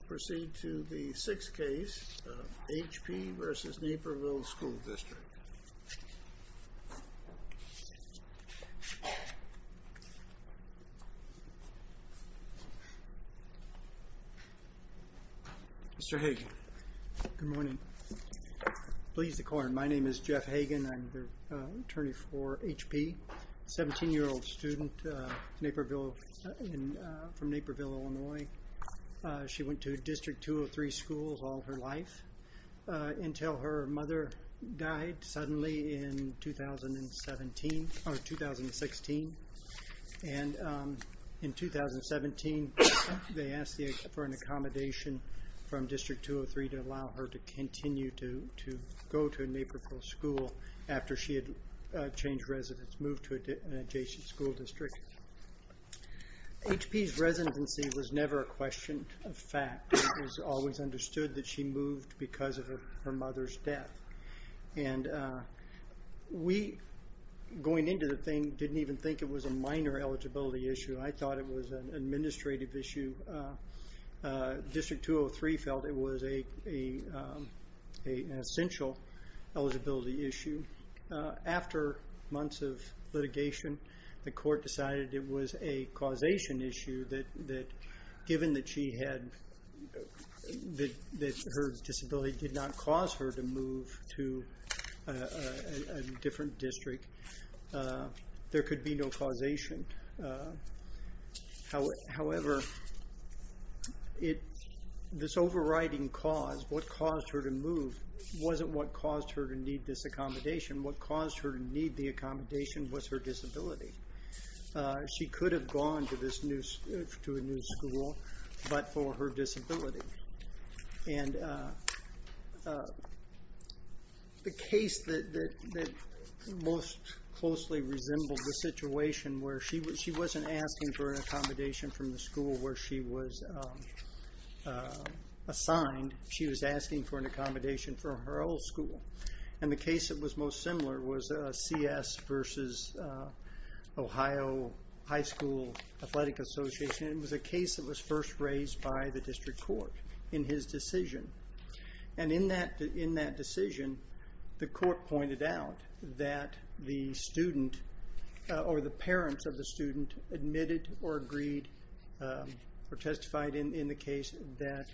We'll proceed to the sixth case of H. P. v. Naperville School District. Mr. Hagan. Good morning. Pleased to call you. My name is Jeff Hagan. I'm the attorney for H. P. 17-year-old student from Naperville, Illinois. She went to District 203 schools all her life until her mother died suddenly in 2016. In 2017, they asked for an accommodation from District 203 to allow her to continue to go to Naperville School after she had changed residence, moved to an adjacent school district. H. P.'s residency was never a question of fact. It was always understood that she moved because of her mother's death. And we, going into the thing, didn't even think it was a minor eligibility issue. I thought it was an administrative issue. District 203 felt it was an essential eligibility issue. After months of litigation, the court decided it was a causation issue, that given that her disability did not cause her to move to a different district, there could be no causation. However, this overriding cause, what caused her to move, wasn't what caused her to need this accommodation. What caused her to need the accommodation was her disability. She could have gone to a new school, but for her disability. And the case that most closely resembled the situation where she wasn't asking for an accommodation from the school where she was assigned, she was asking for an accommodation from her old school. And the case that was most similar was CS versus Ohio High School Athletic Association. It was a case that was first raised by the district court in his decision. And in that decision, the court pointed out that the student, or the parents of the student, admitted or agreed or testified in the case that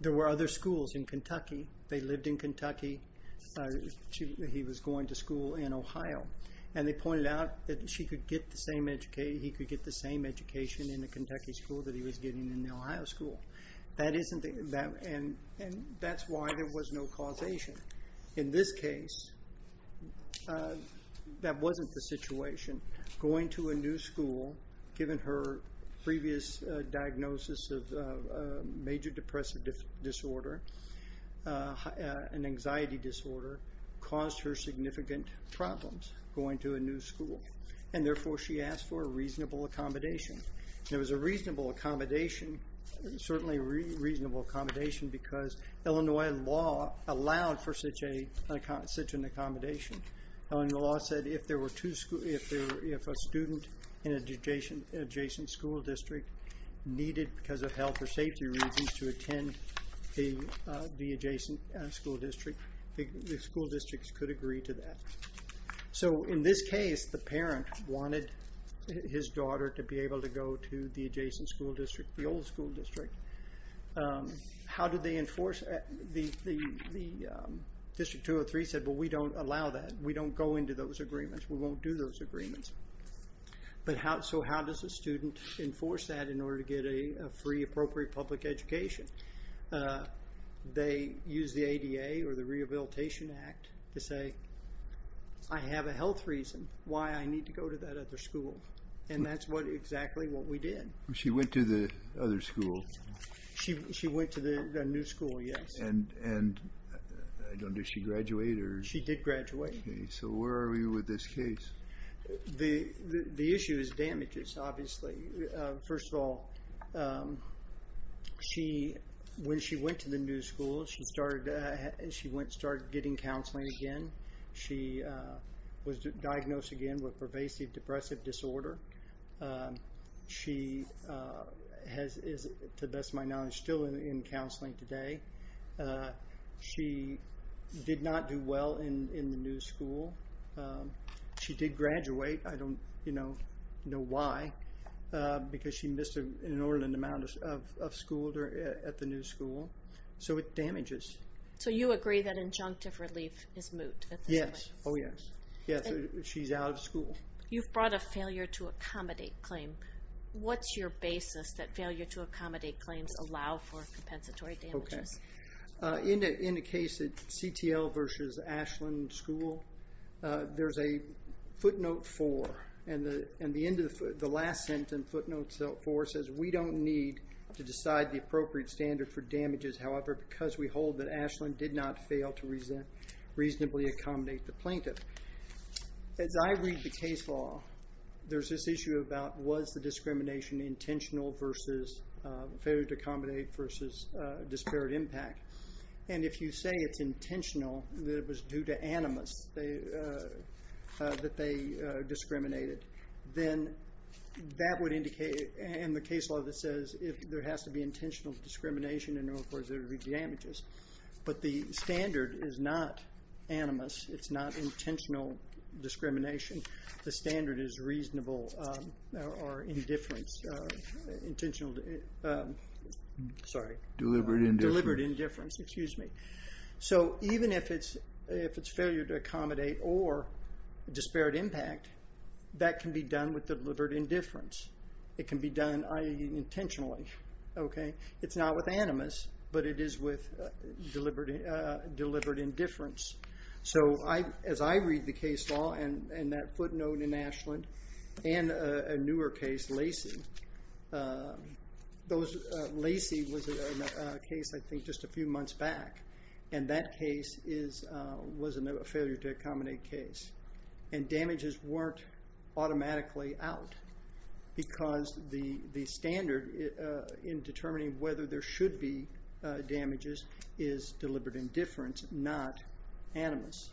there were other schools in Kentucky. They lived in Kentucky. He was going to school in Ohio. And they pointed out that he could get the same education in the Kentucky school that he was getting in the Ohio school. And that's why there was no causation. In this case, that wasn't the situation. Going to a new school, given her previous diagnosis of major depressive disorder, an anxiety disorder, caused her significant problems going to a new school. And therefore, she asked for a reasonable accommodation. It was a reasonable accommodation, certainly a reasonable accommodation, because Illinois law allowed for such an accommodation. Illinois law said if a student in an adjacent school district needed, because of health or safety reasons, to attend the adjacent school district, the school districts could agree to that. So in this case, the parent wanted his daughter to be able to go to the adjacent school district, the old school district. How did they enforce that? District 203 said, well, we don't allow that. We don't go into those agreements. We won't do those agreements. So how does a student enforce that in order to get a free, appropriate public education? They use the ADA or the Rehabilitation Act to say, I have a health reason why I need to go to that other school. And that's exactly what we did. She went to the other school. She went to the new school, yes. And did she graduate? She did graduate. So where are we with this case? The issue is damages, obviously. First of all, when she went to the new school, she started getting counseling again. She was diagnosed again with pervasive depressive disorder. She is, to the best of my knowledge, still in counseling today. She did not do well in the new school. She did graduate. I don't know why, because she missed an inordinate amount of school at the new school. So it damages. So you agree that injunctive relief is moot at this point? Yes. Oh, yes. Yes, she's out of school. You've brought a failure to accommodate claim. What's your basis that failure to accommodate claims allow for compensatory damages? In the case of CTL versus Ashland School, there's a footnote four. And the last sentence in footnote four says, we don't need to decide the appropriate standard for damages, however, because we hold that Ashland did not fail to reasonably accommodate the plaintiff. As I read the case law, there's this issue about, was the discrimination intentional versus failure to accommodate versus disparate impact? And if you say it's intentional, that it was due to animus, that they discriminated, then that would indicate, in the case law that says, there has to be intentional discrimination in order for there to be damages. But the standard is not animus. It's not intentional discrimination. The standard is reasonable or indifference, intentional, sorry. Deliberate indifference. Deliberate indifference, excuse me. So even if it's failure to accommodate or disparate impact, that can be done with deliberate indifference. It can be done intentionally, okay? It's not with animus, but it is with deliberate indifference. So as I read the case law and that footnote in Ashland and a newer case, Lacey, Lacey was a case, I think, just a few months back, and that case was a failure to accommodate case. And damages weren't automatically out because the standard in determining whether there should be damages is deliberate indifference, not animus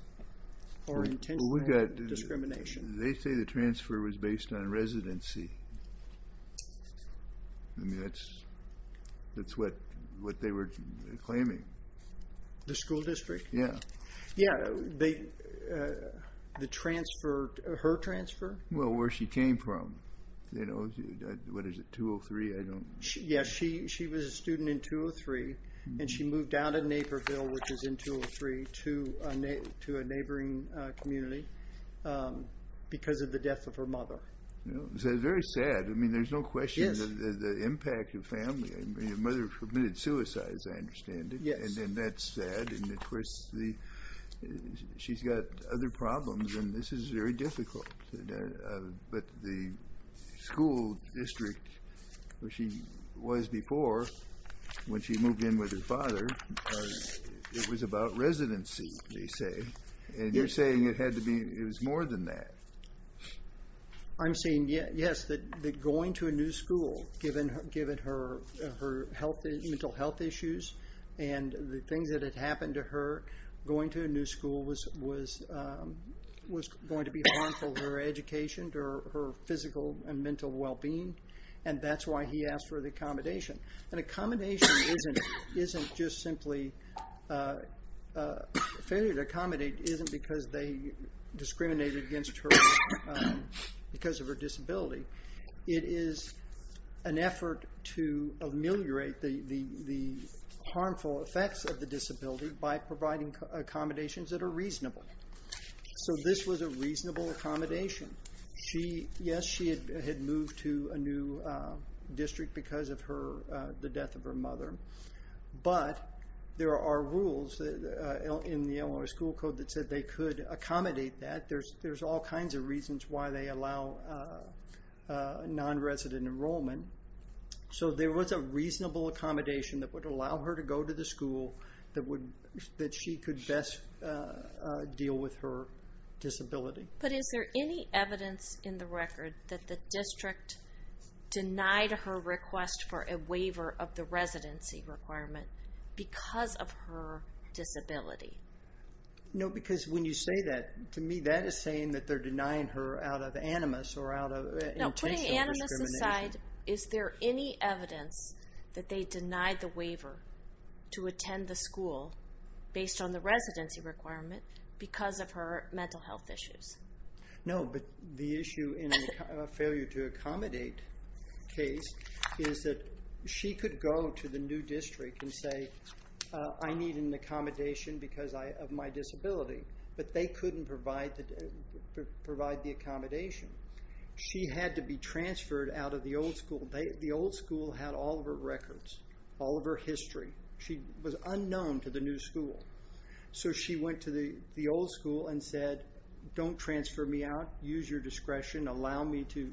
or intentional discrimination. They say the transfer was based on residency. I mean, that's what they were claiming. The school district? Yeah. Yeah, the transfer, her transfer? Well, where she came from. You know, what is it, 203, I don't. Yeah, she was a student in 203, and she moved down to Naperville, which is in 203, to a neighboring community because of the death of her mother. That's very sad. I mean, there's no question that the impact of family. I mean, her mother committed suicide, as I understand it, and then that's sad. And, of course, she's got other problems, and this is very difficult. But the school district where she was before, when she moved in with her father, it was about residency, they say. And you're saying it had to be, it was more than that. I'm saying, yes, that going to a new school, given her mental health issues and the things that had happened to her, going to a new school was going to be harmful to her education, to her physical and mental well-being, and that's why he asked for the accommodation. And accommodation isn't just simply, failure to accommodate isn't because they discriminated against her because of her disability. It is an effort to ameliorate the harmful effects of the disability by providing accommodations that are reasonable. So this was a reasonable accommodation. Yes, she had moved to a new district because of the death of her mother, but there are rules in the Illinois School Code that said they could accommodate that. There's all kinds of reasons why they allow non-resident enrollment. So there was a reasonable accommodation that would allow her to go to the school that she could best deal with her disability. But is there any evidence in the record that the district denied her request for a waiver of the residency requirement because of her disability? No, because when you say that, to me that is saying that they're denying her out of animus or out of intentional discrimination. No, putting animus aside, is there any evidence that they denied the waiver to attend the school based on the residency requirement because of her mental health issues? No, but the issue in a failure to accommodate case is that she could go to the new district and say, I need an accommodation because of my disability, but they couldn't provide the accommodation. She had to be transferred out of the old school. The old school had all of her records, all of her history. She was unknown to the new school. So she went to the old school and said, don't transfer me out, use your discretion, allow me to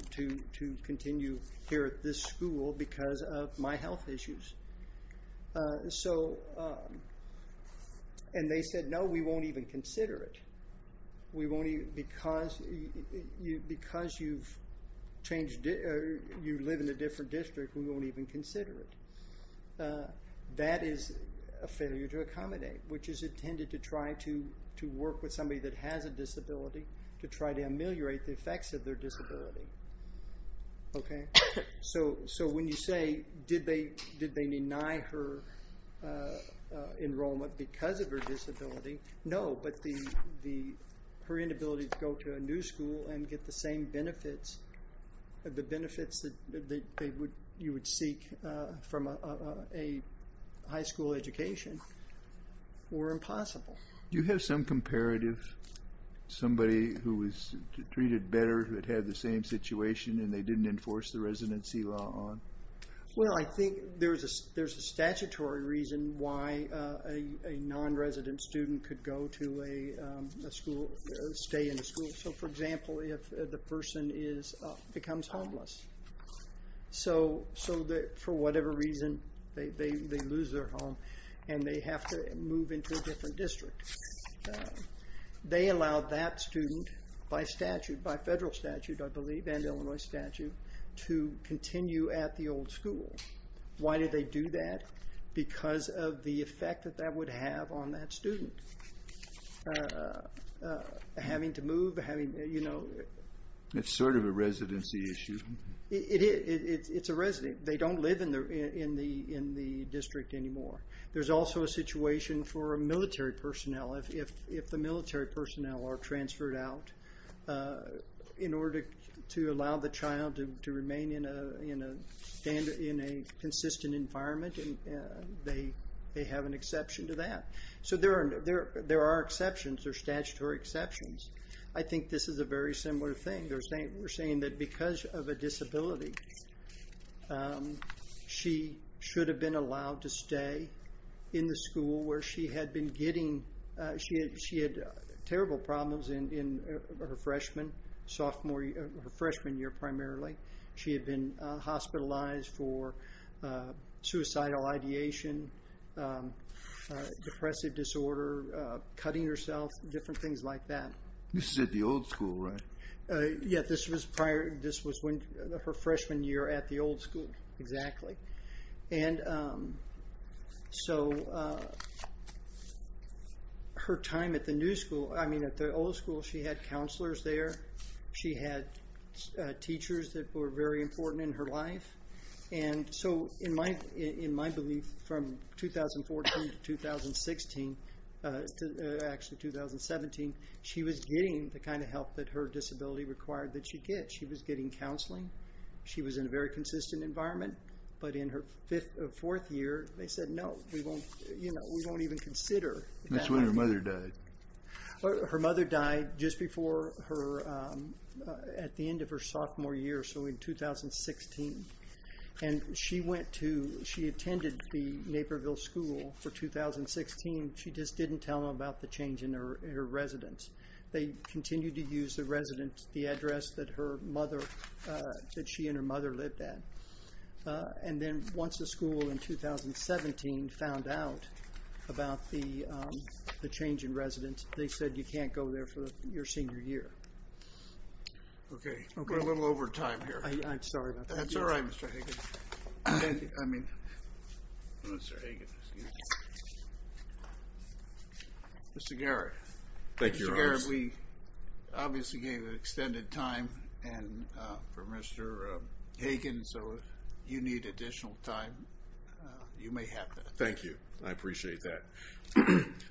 continue here at this school because of my health issues. And they said, no, we won't even consider it because you live in a different district, we won't even consider it. That is a failure to accommodate, which is intended to try to work with somebody that has a disability to try to ameliorate the effects of their disability. So when you say, did they deny her enrollment because of her disability? No, but her inability to go to a new school and get the same benefits, the benefits that you would seek from a high school education, were impossible. Do you have some comparative, somebody who was treated better who had had the same situation and they didn't enforce the residency law on? Well, I think there's a statutory reason why a non-resident student could go to a school, stay in a school. So for example, if the person becomes homeless. So for whatever reason, they lose their home and they have to move into a different district. They allowed that student, by statute, by federal statute, I believe, and Illinois statute, to continue at the old school. Why did they do that? Because of the effect that that would have on that student. Having to move. It's sort of a residency issue. It is. It's a residency. They don't live in the district anymore. There's also a situation for military personnel. If the military personnel are transferred out in order to allow the child to remain in a consistent environment and they have an exception to that. So there are exceptions, there are statutory exceptions. I think this is a very similar thing. We're saying that because of a disability, she should have been allowed to stay in the school where she had been getting, she had terrible problems in her freshman, her freshman year primarily. She had been hospitalized for suicidal ideation, depressive disorder, cutting herself, different things like that. This is at the old school, right? Yeah, this was prior, this was when, her freshman year at the old school, exactly. And so her time at the new school, I mean, at the old school, she had counselors there. She had teachers that were very important in her life. And so in my belief, from 2014 to 2016, actually 2017, she was getting the kind of help that her disability required that she get. She was getting counseling. She was in a very consistent environment. But in her fourth year, they said, no, we won't even consider that. That's when her mother died. Her mother died just before her, at the end of her sophomore year, so in 2016. And she went to, she attended the Naperville School for 2016. She just didn't tell them about the change in her residence. They continued to use the residence, the address that her mother, that she and her mother lived at. And then once the school in 2017 found out about the change in residence, they said you can't go there for your senior year. Okay, we're a little over time here. I'm sorry about that. That's all right, Mr. Hagan. I mean, Mr. Hagan, excuse me. Mr. Garrett. Thank you, Your Honor. Mr. Garrett, we obviously gave an extended time for Mr. Hagan, so if you need additional time, you may have that. Thank you. I appreciate that.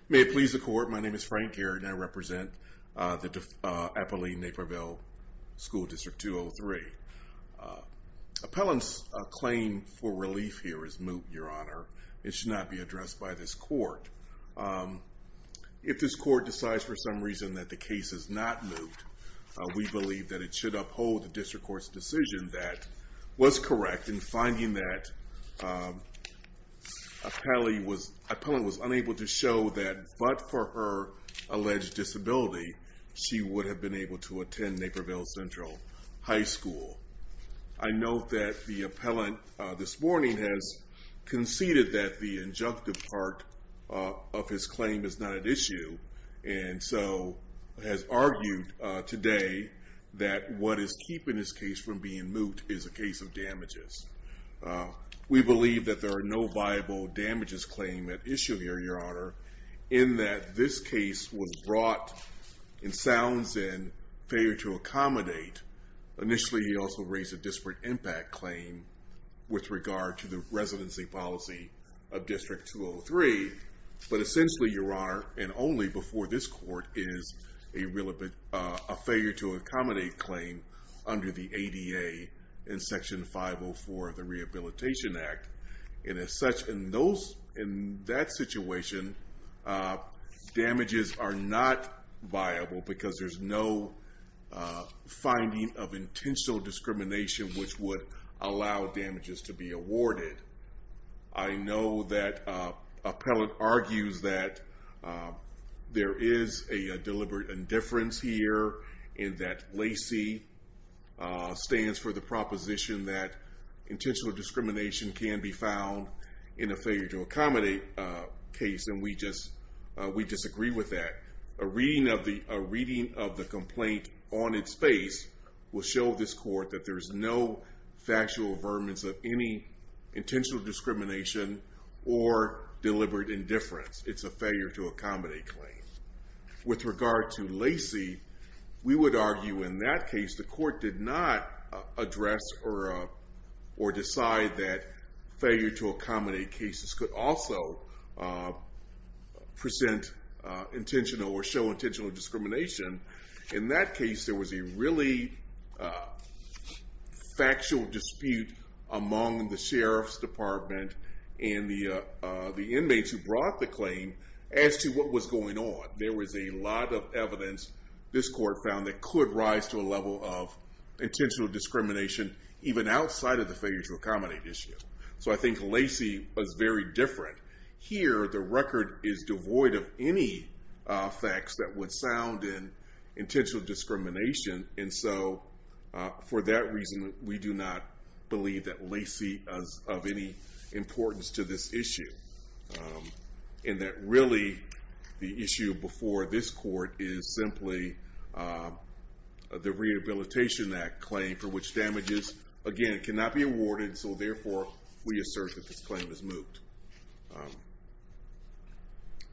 May it please the Court, my name is Frank Garrett, and I represent the Appalachian-Naperville School District 203. Appellant's claim for relief here is moot, Your Honor. It should not be addressed by this court. If this court decides for some reason that the case is not moot, we believe that it should uphold the district court's decision that was correct in finding that appellant was unable to show that, but for her alleged disability, she would have been able to attend Naperville Central High School. I note that the appellant this morning has conceded that the injunctive part of his claim is not at issue, and so has argued today that what is keeping this case from being moot is a case of damages. We believe that there are no viable damages claim at issue here, Your Honor, in that this case was brought in sounds and failure to accommodate. Initially, he also raised a disparate impact claim with regard to the residency policy of District 203, but essentially, Your Honor, and only before this court, is a failure to accommodate claim under the ADA in Section 504 of the Rehabilitation Act, and as such, in that situation, damages are not viable because there's no finding of intentional discrimination which would allow damages to be awarded. I know that appellant argues that there is a deliberate indifference here in that LACI stands for the proposition that intentional discrimination can be found in a failure to accommodate case, and we disagree with that. A reading of the complaint on its face will show this court that there is no factual affirmance of any intentional discrimination or deliberate indifference. It's a failure to accommodate claim. With regard to LACI, we would argue in that case, the court did not address or decide that failure to accommodate cases could also present intentional or show intentional discrimination. In that case, there was a really factual dispute among the Sheriff's Department and the inmates who brought the claim as to what was going on. There was a lot of evidence, this court found, that could rise to a level of intentional discrimination even outside of the failure to accommodate issue. I think LACI was very different. Here, the record is devoid of any facts that would sound in intentional discrimination, and so for that reason, we do not believe that LACI is of any importance to this issue, and that really the issue before this court is simply the Rehabilitation Act claim for which damages, again, cannot be awarded, so therefore we assert that this claim is moot.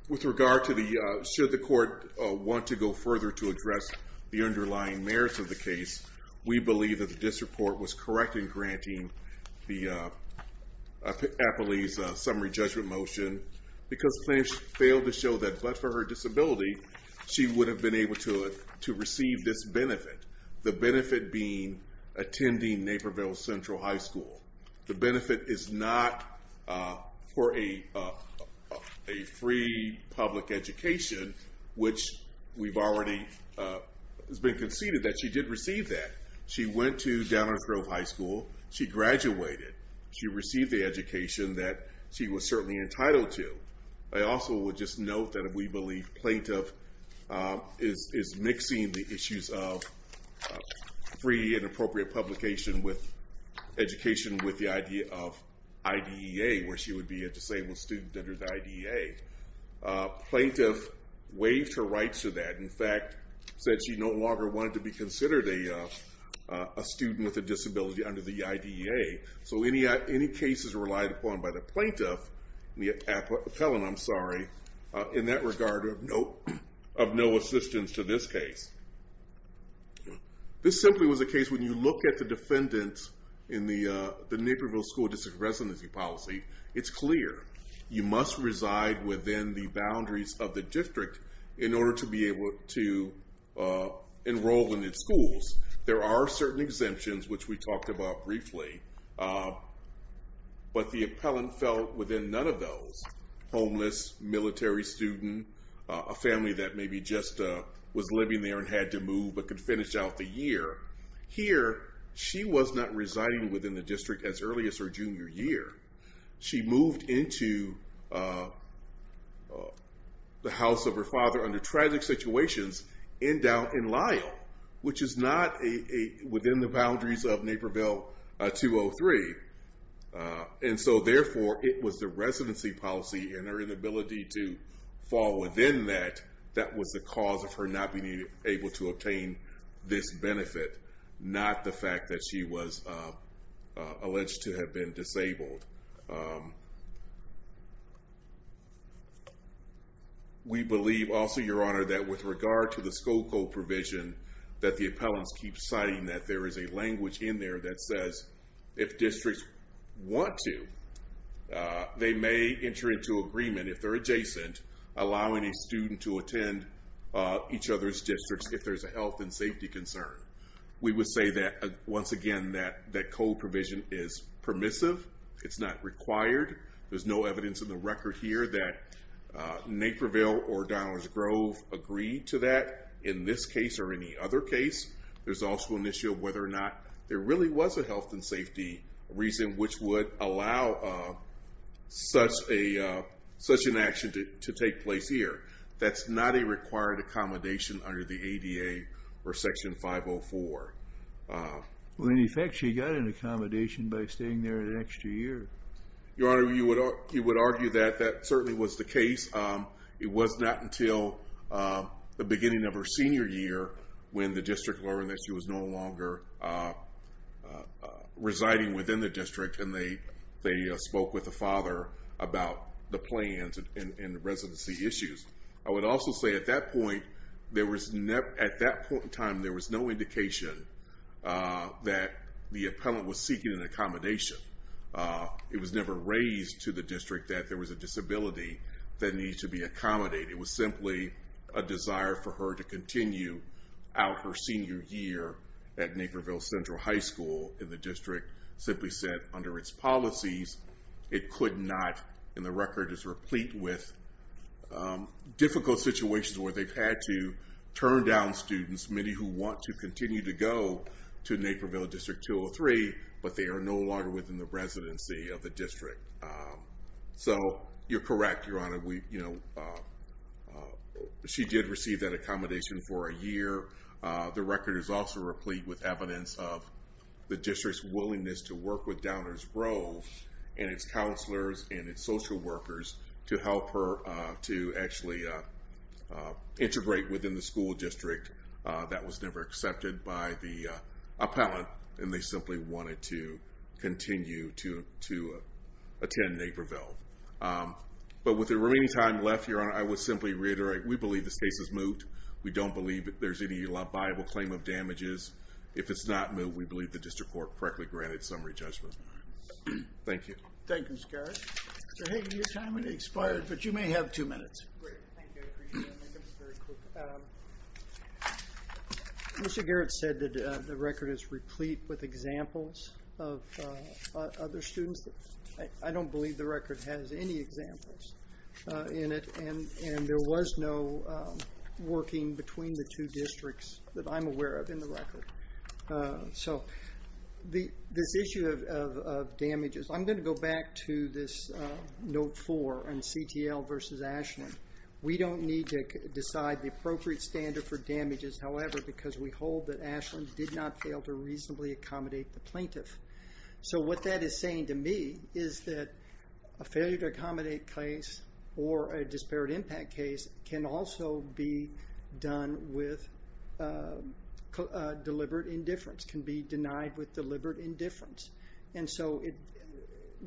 With regard to the, should the court want to go further to address the underlying merits of the case, we believe that the district court was correct in granting the appellee's summary judgment motion because the claim failed to show that but for her disability, she would have been able to receive this benefit, the benefit being attending Naperville Central High School. The benefit is not for a free public education, which we've already been conceded that she did receive that. She went to Downer Grove High School. She graduated. She received the education that she was certainly entitled to. I also would just note that we believe plaintiff is mixing the issues of free and appropriate publication with education with the idea of IDEA, where she would be a disabled student under the IDEA. Plaintiff waived her rights to that. In fact, said she no longer wanted to be considered a student with a disability under the IDEA, so any cases relied upon by the plaintiff, the appellant, I'm sorry, in that regard of no assistance to this case. This simply was a case when you look at the defendant in the Naperville School District Residency Policy, it's clear you must reside within the boundaries of the district in order to be able to enroll in its schools. There are certain exemptions, which we talked about briefly, but the appellant felt within none of those. Homeless, military student, a family that maybe just was living there and had to move but could finish out the year. Here, she was not residing within the district as early as her junior year. She moved into the house of her father under tragic situations in down in Lyell, which is not within the boundaries of Naperville 203. And so therefore, it was the residency policy and her inability to fall within that, that was the cause of her not being able to obtain this benefit, not the fact that she was alleged to have been disabled. We believe also, Your Honor, that with regard to the school code provision that the appellants keep citing that there is a language in there that says if districts want to, they may enter into agreement, if they're adjacent, allowing a student to attend each other's districts if there's a health and safety concern. We would say that, once again, that code provision is permissive. It's not required. There's no evidence in the record here that Naperville or Donalds Grove agreed to that in this case or any other case. There's also an issue of whether or not there really was a health and safety reason which would allow such an action to take place here. That's not a required accommodation under the ADA or Section 504. Well, in effect, she got an accommodation by staying there an extra year. Your Honor, you would argue that that certainly was the case. It was not until the beginning of her senior year when the district learned that she was no longer residing within the district and they spoke with the father about the plans and residency issues. I would also say at that point, at that point in time, there was no indication that the appellant was seeking an accommodation. It was never raised to the district that there was a disability that needed to be accommodated. It was simply a desire for her to continue out her senior year at Naperville Central High School. The district simply said under its policies it could not, and the record is replete with difficult situations where they've had to turn down students, many who want to continue to go to Naperville District 203, so you're correct, Your Honor. She did receive that accommodation for a year. The record is also replete with evidence of the district's willingness to work with Downers Grove and its counselors and its social workers to help her to actually integrate within the school district. That was never accepted by the appellant, and they simply wanted to continue to attend Naperville. But with the remaining time left, Your Honor, I would simply reiterate we believe this case is moved. We don't believe there's any liable claim of damages. If it's not moved, we believe the district court correctly granted summary judgment. Thank you. Thank you, Mr. Garrett. Mr. Hagan, your time has expired, but you may have two minutes. Great. Thank you. I appreciate it. I'll make it very quick. Mr. Garrett said the record is replete with examples of other students. I don't believe the record has any examples in it, and there was no working between the two districts that I'm aware of in the record. So this issue of damages, I'm going to go back to this Note 4 and CTL versus Ashland. We don't need to decide the appropriate standard for damages, however, because we hold that Ashland did not fail to reasonably accommodate the plaintiff. So what that is saying to me is that a failure to accommodate case or a disparate impact case can also be done with deliberate indifference, can be denied with deliberate indifference. And so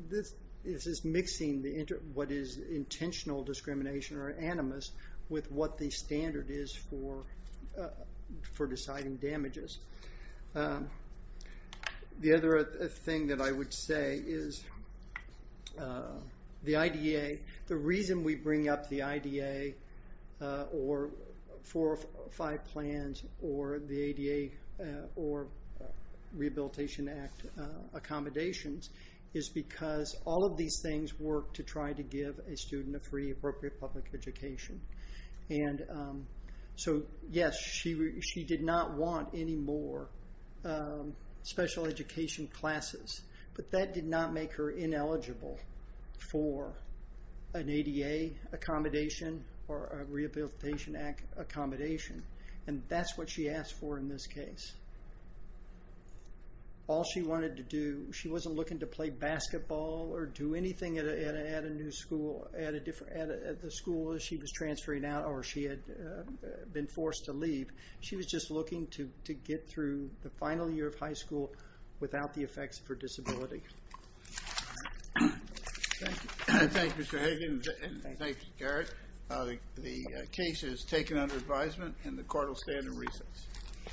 this is mixing what is intentional discrimination or animus with what the standard is for deciding damages. The other thing that I would say is the IDA, the reason we bring up the IDA or four or five plans or the ADA or Rehabilitation Act accommodations is because all of these things work to try to give a student a free appropriate public education. And so, yes, she did not want any more special education classes, but that did not make her ineligible for an ADA accommodation or a Rehabilitation Act accommodation. And that's what she asked for in this case. All she wanted to do, she wasn't looking to play basketball or do anything at a new school, at the school she was transferring out or she had been forced to leave. She was just looking to get through the final year of high school without the effects of her disability. Thank you, Mr. Hagan. Thank you, Garrett. The case is taken under advisement and the court will stand in recess.